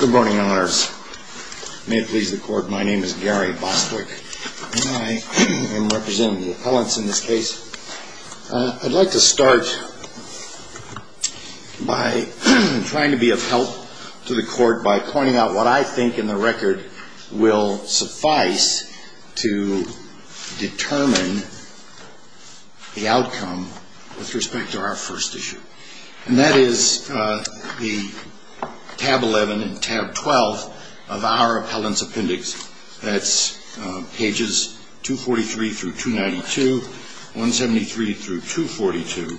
Good morning, Your Honors. May it please the Court, my name is Gary Bostwick, and I am representing the appellants in this case. I'd like to start by trying to be of help to the Court by pointing out what I think in the record will suffice to determine the outcome with respect to our first issue. And that is the tab 11 and tab 12 of our appellant's appendix. That's pages 243 through 292, 173 through 242,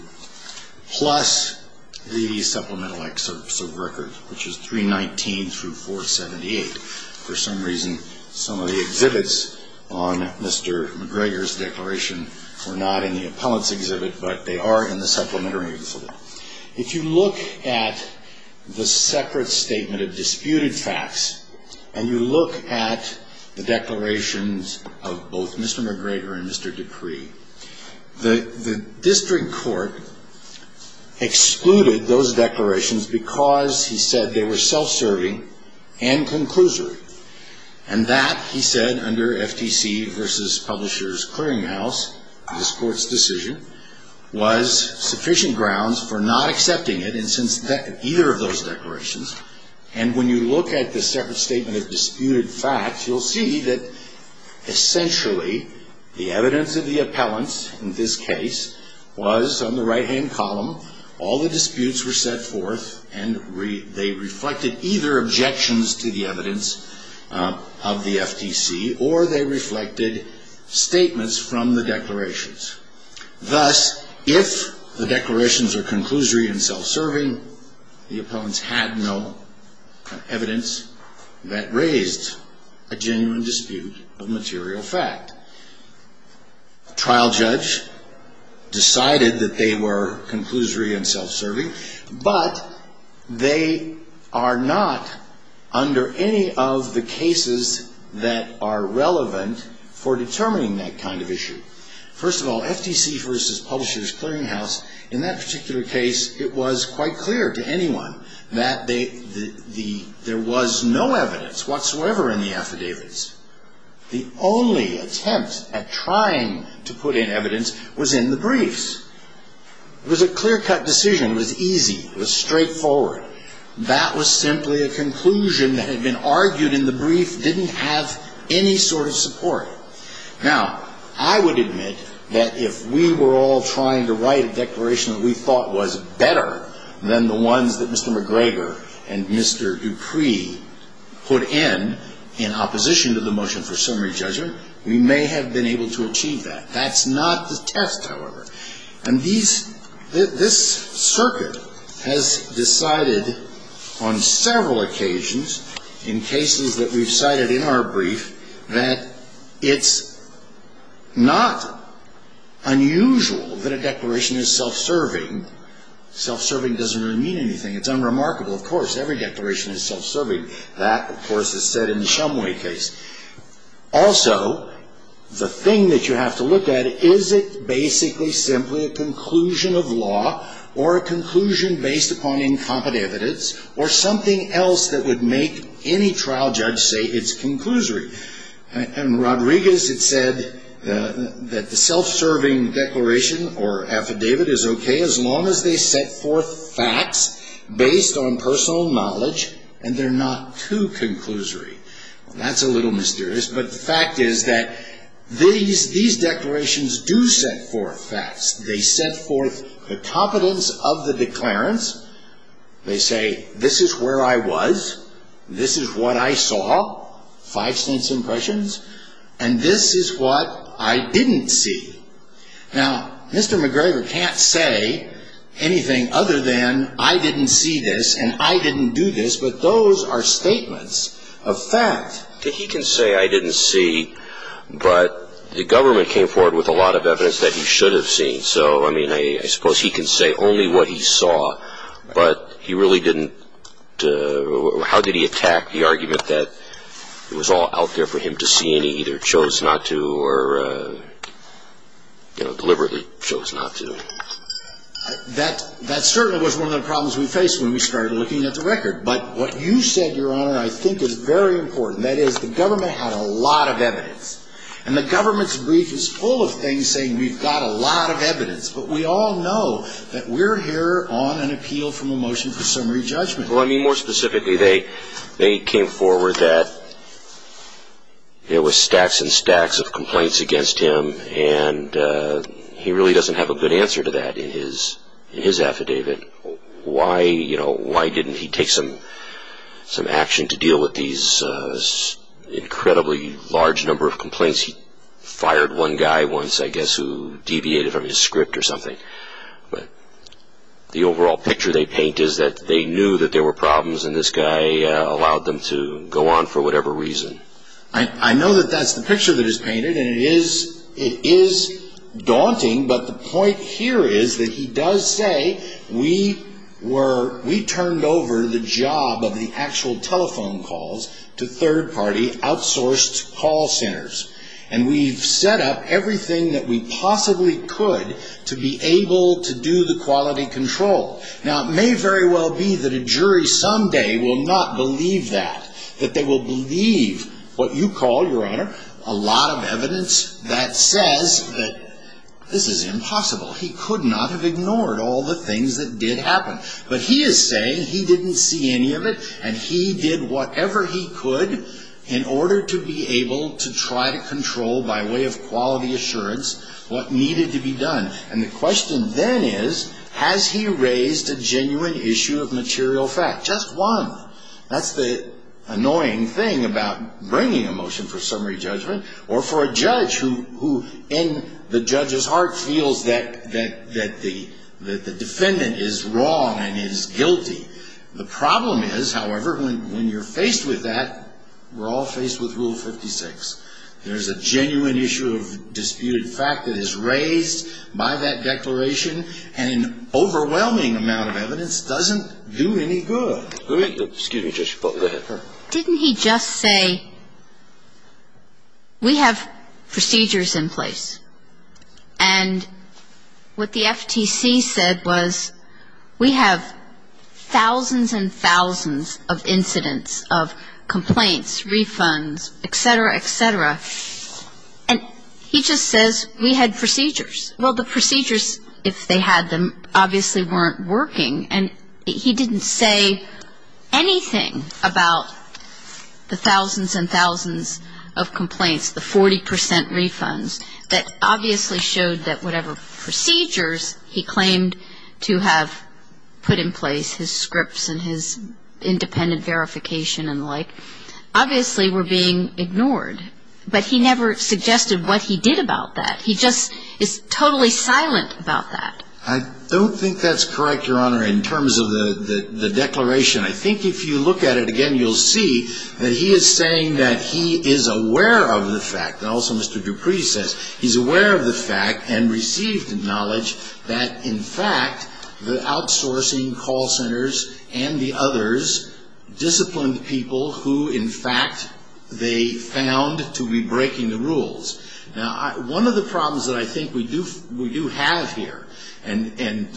plus the supplemental excerpts of record, which is 319 through 478. For some reason, some of the exhibits on Mr. MacGregor's declaration were not in the appellant's exhibit, but they are in the supplementary exhibit. If you look at the separate statement of disputed facts, and you look at the declarations of both Mr. MacGregor and Mr. Decree, the district court excluded those declarations because, he said, they were self-serving and conclusory. And that, he said, under FTC v. Publishers Clearinghouse, this Court's decision, was sufficient grounds for not accepting it in either of those declarations. And when you look at the separate statement of disputed facts, you'll see that, essentially, the evidence of the appellant's, in this case, was on the right-hand column. All the disputes were set forth, and they reflected either objections to the evidence of the FTC, or they reflected statements from the declarations. Thus, if the declarations were conclusory and self-serving, the appellants had no evidence that raised a genuine dispute of material fact. A trial judge decided that they were conclusory and self-serving, but they are not under any of the cases that are relevant for determining that kind of issue. First of all, FTC v. Publishers Clearinghouse, in that particular case, it was quite clear to anyone that there was no evidence whatsoever in the affidavits. The only attempt at trying to put in evidence was in the briefs. It was a clear-cut decision. It was easy. It was straightforward. That was simply a conclusion that had been argued in the brief, didn't have any sort of support. Now, I would admit that if we were all trying to write a declaration that we thought was better than the ones that Mr. McGregor and Mr. Dupree put in, in opposition to the motion for summary judgment, we may have been able to achieve that. That's not the test, however. And this circuit has decided on several occasions in cases that we've cited in our brief that it's not unusual that a declaration is self-serving. Self-serving doesn't really mean anything. It's unremarkable. Of course, every declaration is self-serving. That, of course, is said in the Shumway case. Also, the thing that you have to look at, is it basically simply a conclusion of law, or a conclusion based upon incompetent evidence, or something else that would make any trial judge say it's conclusory? Rodriguez had said that the self-serving declaration or affidavit is okay as long as they set forth facts based on personal knowledge, and they're not too conclusory. That's a little mysterious, but the fact is that these declarations do set forth facts. They set forth the competence of the declarants. They say, this is where I was, this is what I saw, five sense impressions, and this is what I didn't see. Now, Mr. McGregor can't say anything other than, I didn't see this, and I didn't do this, but those are statements of fact. He can say, I didn't see, but the government came forward with a lot of evidence that he should have seen. So, I mean, I suppose he can say only what he saw, but he really didn't, how did he attack the argument that it was all out there for him to see, and he either chose not to, or deliberately chose not to? That certainly was one of the problems we faced when we started looking at the record, but what you said, Your Honor, I think is very important. That is, the government had a lot of evidence, and the government's brief is full of things saying we've got a lot of evidence, but we all know that we're here on an appeal from a motion for summary judgment. Well, I mean, more specifically, they came forward that there were stacks and stacks of complaints against him, and he really doesn't have a good answer to that in his affidavit. Why didn't he take some action to deal with these incredibly large number of complaints? He fired one guy once, I guess, who deviated from his script or something, but the overall picture they paint is that they knew that there were problems, and this guy allowed them to go on for whatever reason. I know that that's the picture that is painted, and it is daunting, but the point here is that he does say we turned over the job of the actual telephone calls to third-party outsourced call centers, and we've set up everything that we possibly could to be able to do the quality control. Now, it may very well be that a jury someday will not believe that, that they will believe what you call, Your Honor, a lot of evidence that says that this is impossible. He could not have ignored all the things that did happen, but he is saying he didn't see any of it, and he did whatever he could in order to be able to try to control, by way of quality assurance, what needed to be done. And the question then is, has he raised a genuine issue of material fact? Just one. That's the annoying thing about bringing a motion for summary judgment, or for a judge who, in the judge's heart, feels that the defendant is wrong and is guilty. The problem is, however, when you're faced with that, we're all faced with Rule 56. There's a genuine issue of disputed fact that is raised by that declaration, and an overwhelming amount of evidence doesn't do any good. Didn't he just say, we have procedures in place, and what the FTC said was, we have thousands and thousands of incidents of complaints, refunds, etc., etc., and he just says, we had procedures. Well, the procedures, if they had them, obviously weren't working, and he didn't say anything about the thousands and thousands of complaints, the 40% refunds, that obviously showed that whatever procedures he claimed to have put in place, his scripts and his independent verification and the like, obviously were being ignored. But he never suggested what he did about that. He just is totally silent about that. I don't think that's correct, Your Honor, in terms of the declaration. I think if you look at it again, you'll see that he is saying that he is aware of the fact, and also Mr. Dupree says, he's aware of the fact and received the knowledge that, in fact, the outsourcing call centers and the others disciplined people who, in fact, they found to be breaking the rules. Now, one of the problems that I think we do have here, and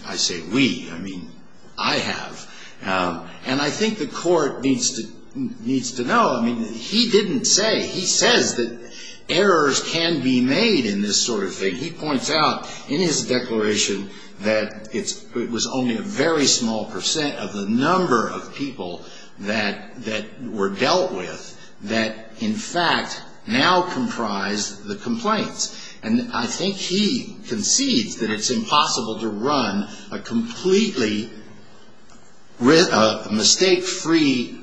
I say we, I mean, I have, and I think the court needs to know, he didn't say, he says that errors can be made in this sort of thing. He points out in his declaration that it was only a very small percent of the number of people that were dealt with that, in fact, now comprise the complaints. And I think he concedes that it's impossible to run a completely mistake-free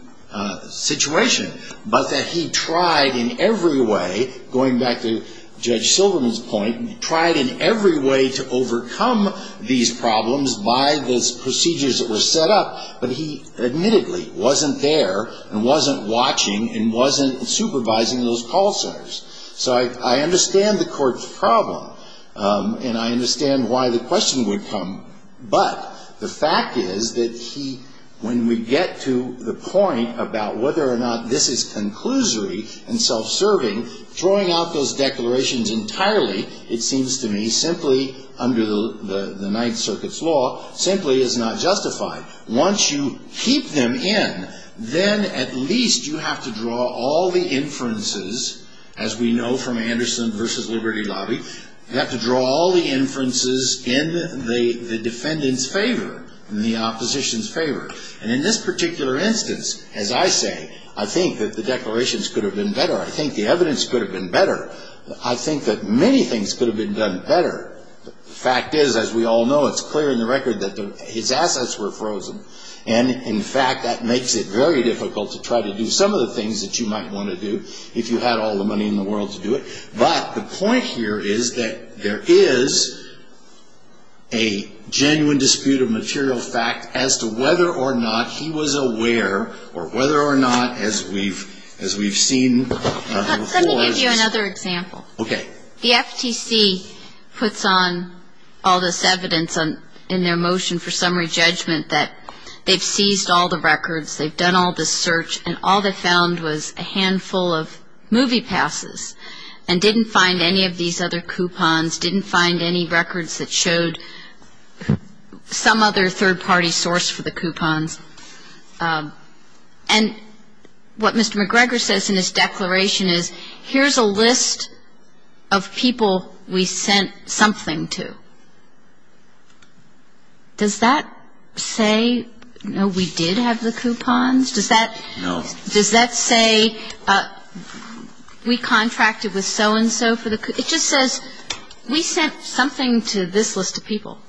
situation, but that he tried in every way, going back to Judge Silverman's point, tried in every way to overcome these problems by the procedures that were set up, but he admittedly wasn't there and wasn't watching and wasn't supervising those call centers. So I understand the court's problem, and I understand why the question would come, but the fact is that he, when we get to the point about whether or not this is conclusory and self-serving, throwing out those declarations entirely, it seems to me, simply under the Ninth Circuit's law, simply is not justified. Once you keep them in, then at least you have to draw all the inferences, as we know from Anderson v. Liberty Lobby, you have to draw all the inferences in the defendant's favor, in the opposition's favor, and in this particular instance, as I say, I think that the declarations could have been better, I think the evidence could have been better, I think that many things could have been done better. The fact is, as we all know, it's clear in the record that his assets were frozen, and in fact, that makes it very difficult to try to do some of the things that you might want to do, if you had all the money in the world to do it, but the point here is that there is a genuine dispute of material fact as to whether or not he was aware, or whether or not, as we've seen before, he was aware of the fact that there was a lot of personal matter involved in this case, and in fact, the state of the court said, here's a list of people we sent something to. Does that say, no, we did have the coupons, does that say we contracted with so-and-so for the coupons? It just says, we sent something to this list of people.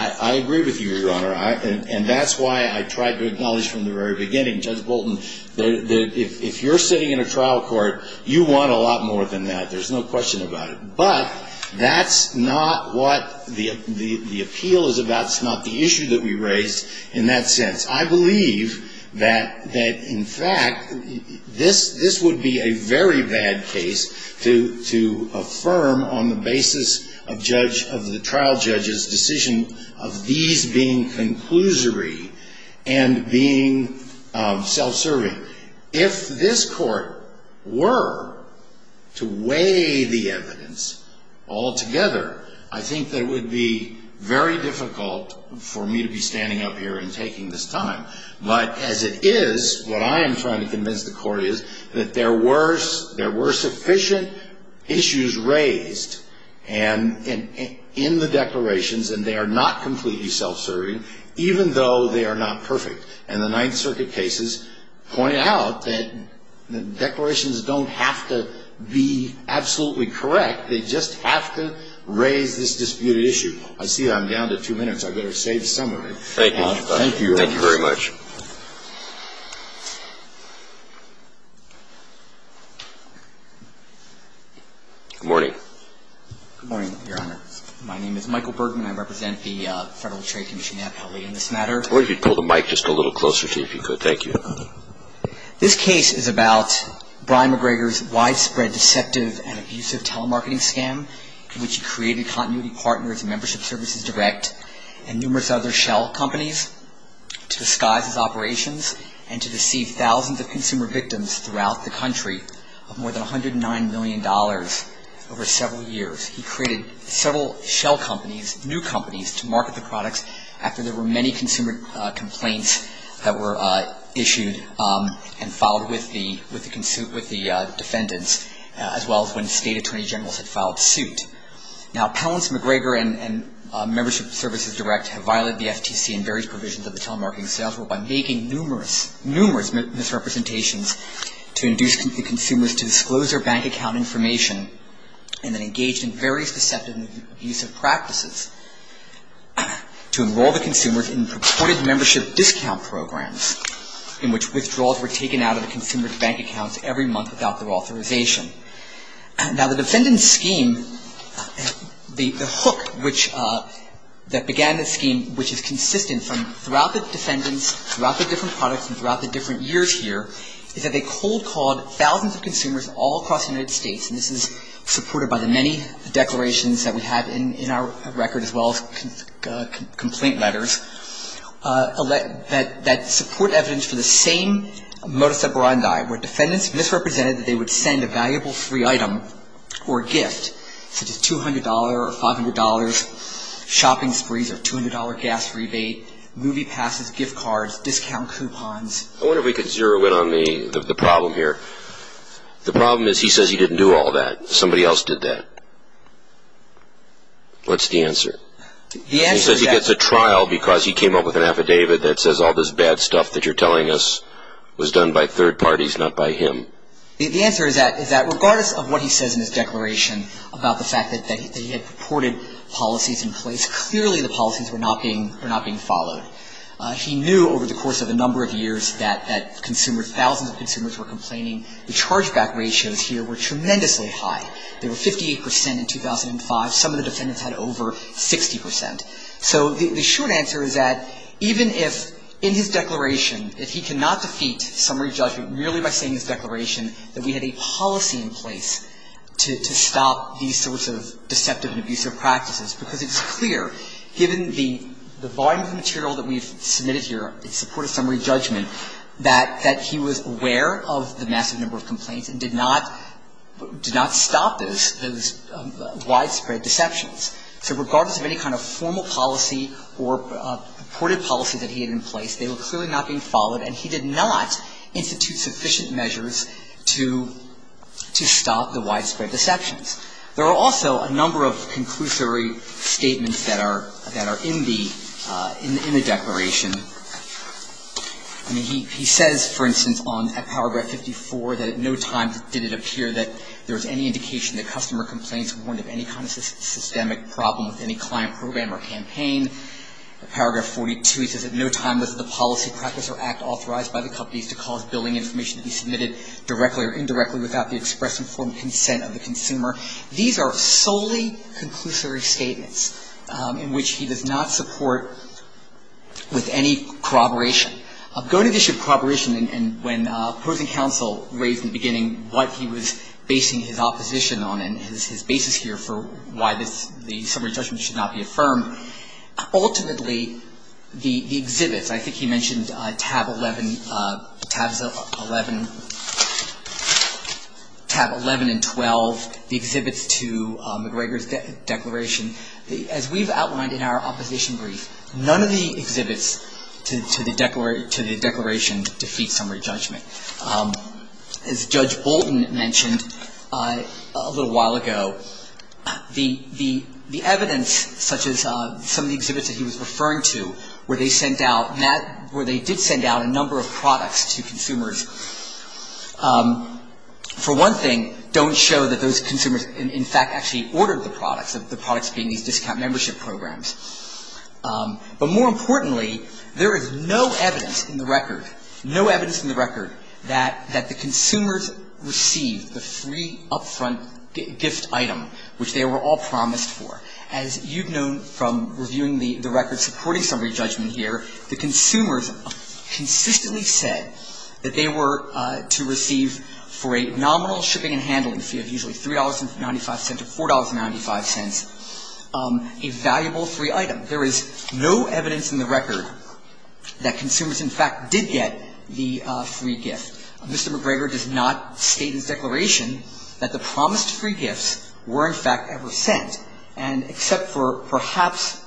I agree with you, Your Honor, and that's why I tried to acknowledge from the very beginning, Judge Bolton, that if you're sitting in a trial court, you want a lot more than that, there's no question about it. But, that's not what the appeal is about, it's not the issue that we raised in that sense. I believe that, in fact, this would be a very bad case to affirm on the basis of the trial judge's decision of these being conclusory and being self-serving. If this court were to weigh the evidence altogether, I think that it would be very difficult for me to be standing up here and taking this time. But, as it is, what I am trying to convince the court is that there were sufficient issues raised in the declarations, and they are not completely self-serving, even though they are not perfect. And the Ninth Circuit cases point out that declarations don't have to be absolutely correct, they just have to raise this disputed issue. I see I'm down to two minutes. I better save some of it. Thank you, Your Honor. Thank you very much. Good morning. Good morning, Your Honor. My name is Michael Bergman. I represent the Federal Trade Commission at LA in this matter. I wonder if you could pull the mic just a little closer to you, if you could. Thank you. This case is about Brian McGregor's widespread, deceptive, and abusive telemarketing scam, in which he created Continuity Partners, Membership Services Direct, and numerous other shell companies to disguise his operations and to deceive thousands of consumer victims throughout the country of more than $109 million over several years. He created several shell companies, new companies, to market the products after there were many consumer complaints that were issued and filed with the defendants, as well as when State Attorney Generals had filed suit. Now, Pellants, McGregor, and Membership Services Direct have violated the FTC and various provisions of the Telemarketing Sales Rule by making numerous, numerous misrepresentations to induce the consumers to disclose their bank account information and then engaged in various deceptive and abusive practices to enroll the consumers in purported membership discount programs, in which withdrawals were taken out of the consumer's bank accounts every month without their authorization. Now, the defendant's scheme, the hook that began the scheme, which is consistent throughout the defendants, throughout the different products, and throughout the different years here, is that they cold-called thousands of consumers all across the United States, and this is supported by the many declarations that we have in our record, as well as complaint letters, that support evidence for the same modus operandi where defendants misrepresented that they would send a valuable free item or gift, such as $200 or $500 shopping sprees or $200 gas rebate, movie passes, gift cards, discount coupons. I wonder if we could zero in on the problem here. The problem is he says he didn't do all that. Somebody else did that. What's the answer? He says he gets a trial because he came up with an affidavit that says all this bad stuff that you're telling us was done by third parties, not by him. The answer is that regardless of what he says in his declaration about the fact that he had purported policies in place, clearly the policies were not being followed. He knew over the course of a number of years that consumers, thousands of consumers were complaining. The chargeback ratios here were tremendously high. They were 58 percent in 2005. Some of the defendants had over 60 percent. So the short answer is that even if in his declaration, if he cannot defeat summary judgment merely by saying in his declaration that we had a policy in place to stop these sorts of deceptive and abusive practices, because it's clear, given the volume of material that we've submitted here in support of summary judgment, that he was aware of the massive number of complaints and did not stop those widespread deceptions. So regardless of any kind of formal policy or purported policy that he had in place, they were clearly not being followed, and he did not institute sufficient measures to stop the widespread deceptions. There are also a number of conclusory statements that are in the declaration. I mean, he says, for instance, on paragraph 54, that at no time did it appear that there was any indication that customer complaints weren't of any kind of systemic problem with any client program or campaign. In paragraph 42, he says at no time was the policy, practice, or act authorized by the companies to cause billing information to be submitted directly or indirectly without the express informed consent of the consumer. These are solely conclusory statements in which he does not support with any corroboration. Going to the issue of corroboration and when opposing counsel raised in the beginning what he was basing his opposition on and his basis here for why the summary judgment should not be affirmed, ultimately the exhibits, I think he mentioned tab 11 and 12, the exhibits to McGregor's declaration. As we've outlined in our opposition brief, none of the exhibits to the declaration defeat summary judgment. As Judge Bolton mentioned a little while ago, the evidence such as some of the exhibits that he was referring to where they sent out, where they did send out a number of products to consumers, for one thing, don't show that those consumers in fact actually ordered the products, the products being these discount membership programs. But more importantly, there is no evidence in the record, no evidence in the record that the consumers received the free upfront gift item which they were all promised for. As you've known from reviewing the record supporting summary judgment here, the consumers consistently said that they were to receive for a nominal shipping and handling fee of usually $3.95 to $4.95 a valuable free item. There is no evidence in the record that consumers in fact did get the free gift. Mr. McGregor does not state in his declaration that the promised free gifts were in fact ever sent. And except for perhaps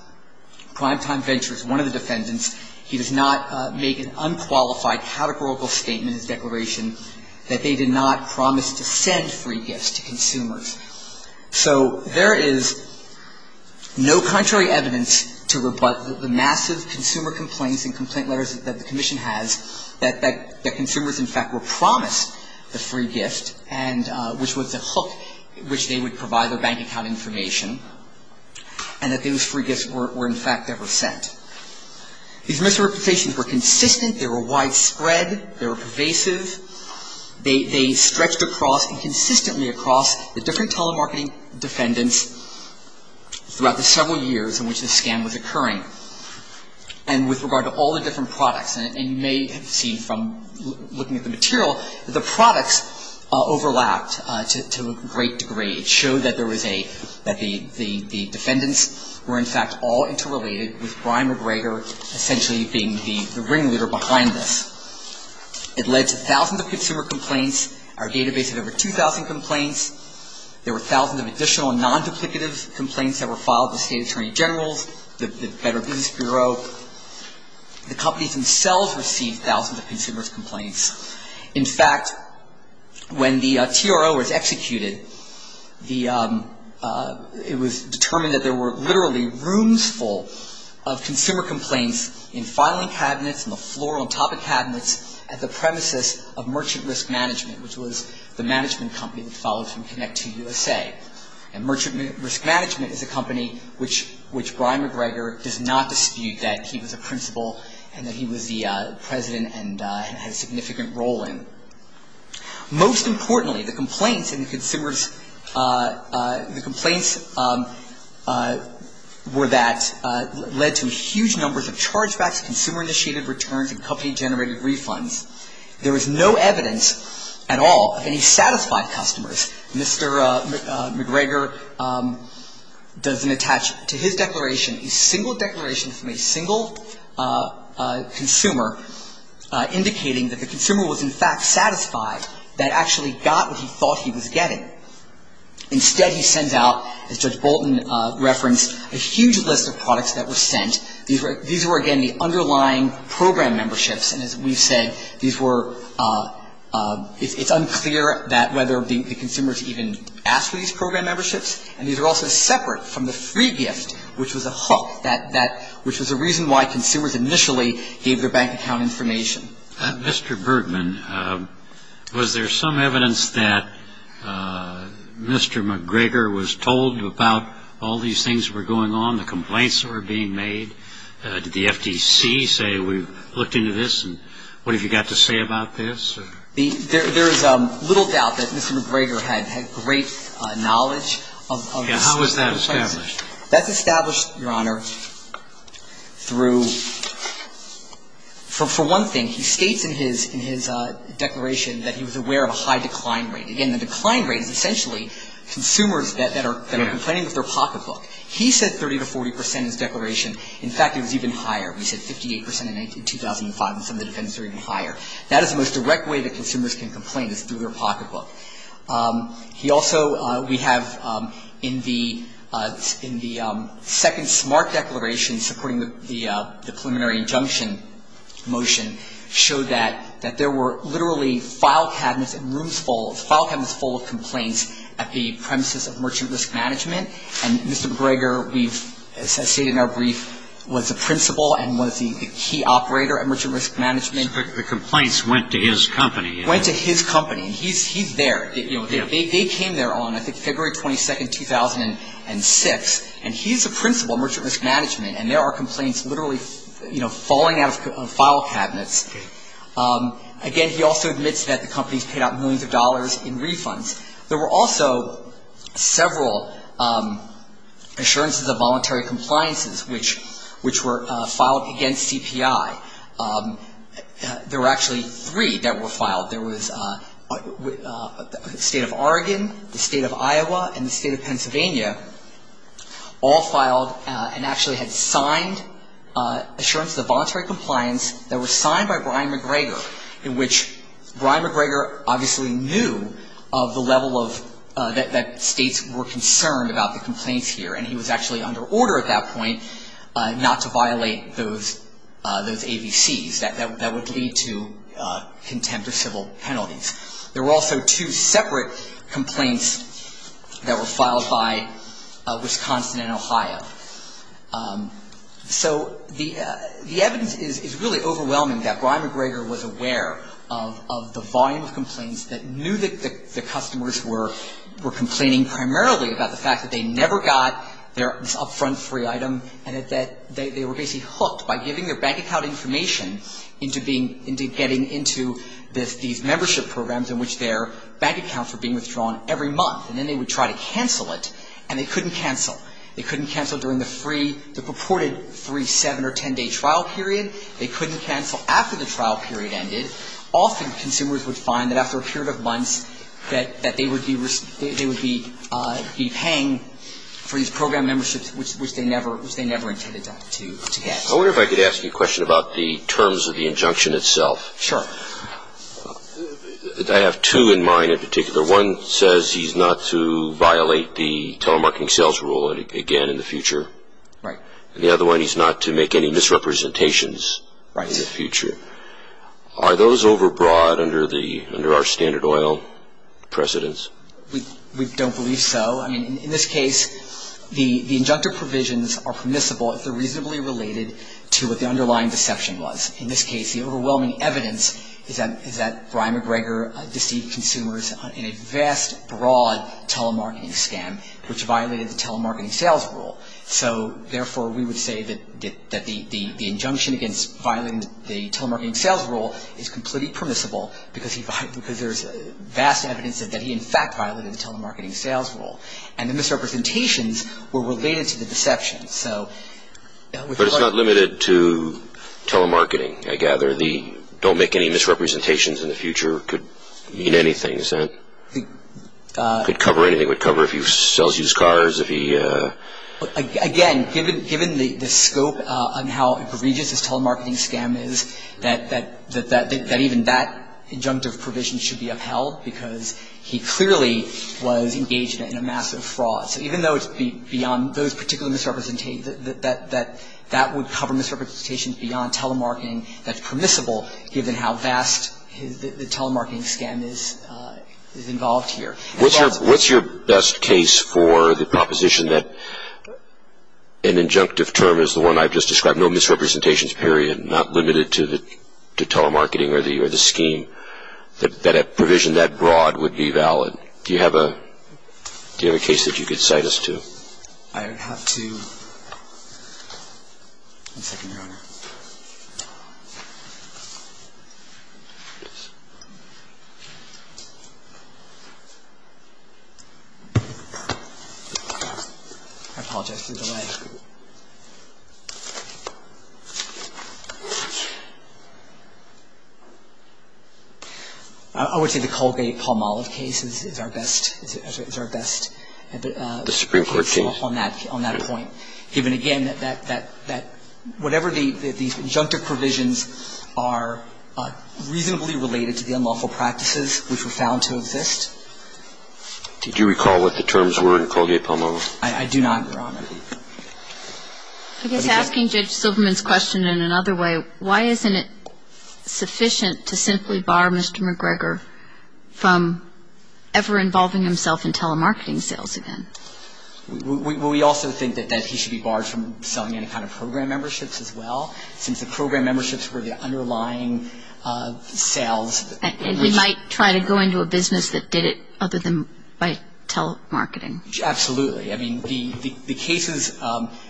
Primetime Ventures, one of the defendants, he does not make an unqualified categorical statement in his declaration that they did not promise to send free gifts to consumers. So there is no contrary evidence to the massive consumer complaints and complaint letters that the Commission has that the consumers in fact were promised the free gift and which was a hook which they would provide their bank account information and that those free gifts were in fact ever sent. These misrepresentations were consistent, they were widespread, they were pervasive, they stretched across and consistently across the different telemarketing defendants throughout the several years in which this scam was occurring. And with regard to all the different products, and you may have seen from looking at the material, the products overlapped to a great degree. It showed that there was a, that the defendants were in fact all interrelated with Brian McGregor essentially being the ringleader behind this. It led to thousands of consumer complaints. Our database had over 2,000 complaints. There were thousands of additional non-duplicative complaints that were filed to state attorney generals, the Federal Business Bureau. The companies themselves received thousands of consumers' complaints. In fact, when the TRO was executed, it was determined that there were literally rooms full of consumer complaints in filing cabinets and the floor on top of cabinets at the premises of Merchant Risk Management, which was the management company that followed from Connect2USA. And Merchant Risk Management is a company which Brian McGregor does not dispute that he was a principal and that he was the president and had a significant role in. Most importantly, the complaints in the consumers, the complaints were that led to huge numbers of chargebacks, consumer-initiated returns, and company-generated refunds. There was no evidence at all of any satisfied customers. Mr. McGregor doesn't attach to his declaration a single declaration from a single consumer, indicating that the consumer was in fact satisfied that actually got what he thought he was getting. Instead, he sends out, as Judge Bolton referenced, a huge list of products that were sent. These were, again, the underlying program memberships. And as we've said, these were — it's unclear whether the consumers even asked for these program memberships. And these were also separate from the free gift, which was a hook, which was the reason why consumers initially gave their bank account information. Mr. Bergman, was there some evidence that Mr. McGregor was told about all these things that were going on, the complaints that were being made? Did the FTC say, we've looked into this, and what have you got to say about this? There is little doubt that Mr. McGregor had great knowledge of this. And how was that established? That's established, Your Honor, through — for one thing, he states in his declaration that he was aware of a high decline rate. Again, the decline rate is essentially consumers that are complaining with their pocketbook. He said 30 to 40 percent in his declaration. In fact, it was even higher. He said 58 percent in 2005, and some of the defendants are even higher. That is the most direct way that consumers can complain, is through their pocketbook. He also — we have in the second SMART declaration, supporting the preliminary injunction motion, showed that there were literally file cabinets and rooms full — file cabinets full of complaints at the premises of Merchant Risk Management. And Mr. McGregor, we've stated in our brief, was the principal and was the key operator at Merchant Risk Management. The complaints went to his company. Went to his company. He's there. They came there on, I think, February 22, 2006. And he's the principal at Merchant Risk Management, and there are complaints literally falling out of file cabinets. Again, he also admits that the companies paid out millions of dollars in refunds. There were also several Assurances of Voluntary Compliances, which were filed against CPI. There were actually three that were filed. There was the State of Oregon, the State of Iowa, and the State of Pennsylvania all filed and actually had signed Assurances of Voluntary Compliance that were signed by Brian McGregor, in which Brian McGregor obviously knew of the level of — that states were concerned about the complaints here. And he was actually under order at that point not to violate those AVCs. That would lead to contempt of civil penalties. There were also two separate complaints that were filed by Wisconsin and Ohio. So the evidence is really overwhelming that Brian McGregor was aware of the volume of complaints that knew that the customers were complaining primarily about the fact that they never got this upfront free item and that they were basically hooked by giving their bank account information into getting into these membership programs in which their bank accounts were being withdrawn every month. And then they would try to cancel it, and they couldn't cancel. They couldn't cancel during the free — the purported free seven- or ten-day trial period. They couldn't cancel after the trial period ended. Often, consumers would find that after a period of months that they would be paying for these program memberships, which they never intended to get. I wonder if I could ask you a question about the terms of the injunction itself. Sure. I have two in mind in particular. One says he's not to violate the telemarketing sales rule again in the future. Right. And the other one, he's not to make any misrepresentations in the future. Right. Are those overbroad under our standard oil precedents? We don't believe so. I mean, in this case, the injunctive provisions are permissible if they're reasonably related to what the underlying deception was. In this case, the overwhelming evidence is that Brian McGregor deceived consumers in a vast, broad telemarketing scam, which violated the telemarketing sales rule. So, therefore, we would say that the injunction against violating the telemarketing sales rule is completely permissible because there's vast evidence that he, in fact, violated the telemarketing sales rule. And the misrepresentations were related to the deception. But it's not limited to telemarketing, I gather. The don't make any misrepresentations in the future could mean anything, isn't it? It could cover anything. It would cover if he sells used cars, if he – Again, given the scope on how egregious his telemarketing scam is, that even that injunctive provision should be upheld because he clearly was engaged in a massive fraud. So even though it's beyond those particular misrepresentations, that would cover misrepresentations beyond telemarketing that's permissible, given how vast the telemarketing scam is involved here. What's your best case for the proposition that an injunctive term is the one I've just described, no misrepresentations, period, not limited to telemarketing or the scheme, that a provision that broad would be valid? Do you have a case that you could cite us to? I have two. One second, Your Honor. I apologize for the delay. I would say the Colgate-Palmolive case is our best. It's our best case on that point, given, again, that whatever the injunctive provisions are reasonably related to the unlawful practices which were found to exist. Did you recall what the terms were in Colgate-Palmolive? I do not, Your Honor. I guess asking Judge Silverman's question in another way, why isn't it sufficient to simply bar Mr. McGregor from ever involving himself in telemarketing sales again? Well, we also think that he should be barred from selling any kind of program memberships as well, since the program memberships were the underlying sales. And we might try to go into a business that did it other than by telemarketing. Absolutely. I mean, the cases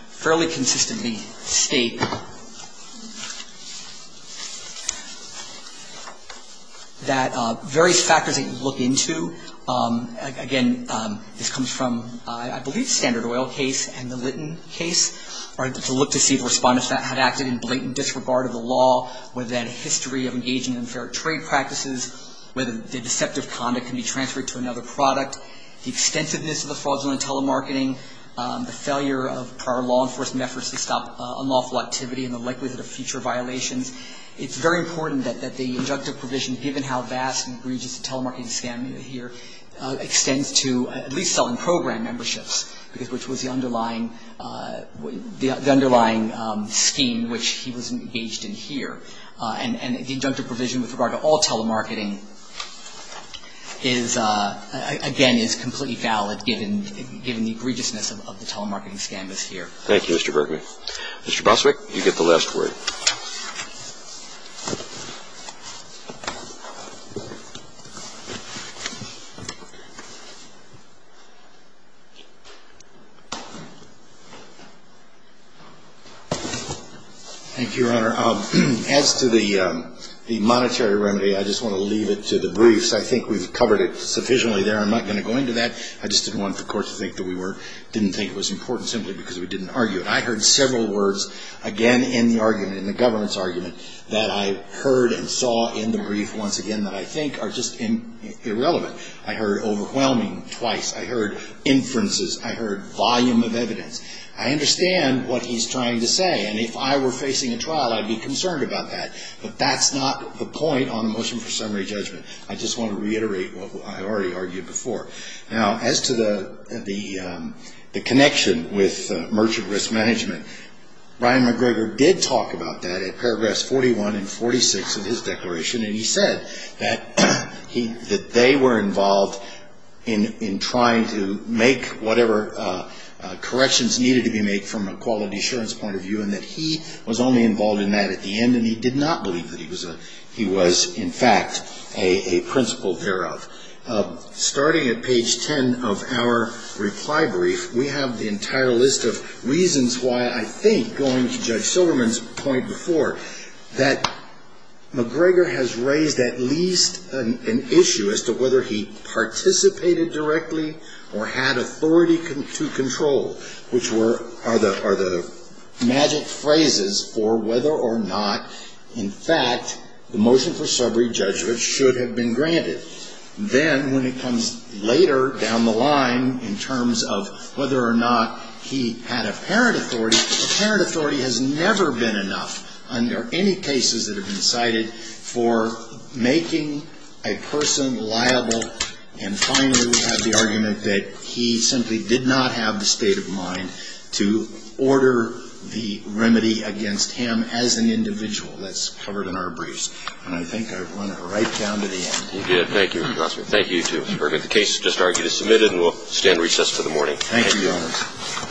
fairly consistently state that various factors that you look into, again, this comes from, I believe, the Standard Oil case and the Litton case, are to look to see the respondents that have acted in blatant disregard of the law, whether they had a history of engaging in unfair trade practices, whether the deceptive conduct can be transferred to another product, the extensiveness of the fraudulent telemarketing, the failure of prior law enforcement efforts to stop unlawful activity and the likelihood of future violations. It's very important that the injunctive provision, given how vast and egregious the telemarketing scandal here, extends to at least selling program memberships, which was the underlying scheme which he was engaged in here. And the injunctive provision with regard to all telemarketing is, again, is completely valid given the egregiousness of the telemarketing scandal here. Thank you, Mr. Berkman. Mr. Boswick, you get the last word. Thank you, Your Honor. As to the monetary remedy, I just want to leave it to the briefs. I think we've covered it sufficiently there. I'm not going to go into that. I just didn't want the court to think that we were – didn't think it was important simply because we didn't argue it. I heard several words, again, in the argument, in the governance argument, that I heard and saw in the brief once again that I think are just irrelevant. I heard overwhelming twice. I heard inferences. I heard volume of evidence. I understand what he's trying to say. And if I were facing a trial, I'd be concerned about that. But that's not the point on the motion for summary judgment. I just want to reiterate what I already argued before. Now, as to the connection with Merchant Risk Management, Ryan McGregor did talk about that at paragraphs 41 and 46 of his declaration. And he said that they were involved in trying to make whatever corrections needed to be made from a quality assurance point of view and that he was only involved in that at the end. And he did not believe that he was, in fact, a principal thereof. Starting at page 10 of our reply brief, we have the entire list of reasons why I think, going to Judge Silverman's point before, that McGregor has raised at least an issue as to whether he participated directly or had authority to control, which are the magic phrases for whether or not, in fact, the motion for summary judgment should have been granted. Then when it comes later down the line in terms of whether or not he had apparent authority, apparent authority has never been enough under any cases that have been cited for making a person liable. And finally, we have the argument that he simply did not have the state of mind to order the remedy against him as an individual. That's covered in our briefs. And I think I've run it right down to the end. You did. Thank you, Your Honor. Thank you, too, Mr. Bergen. The case is just argued and submitted, and we'll stand recess for the morning. Thank you, Your Honor. Thank you.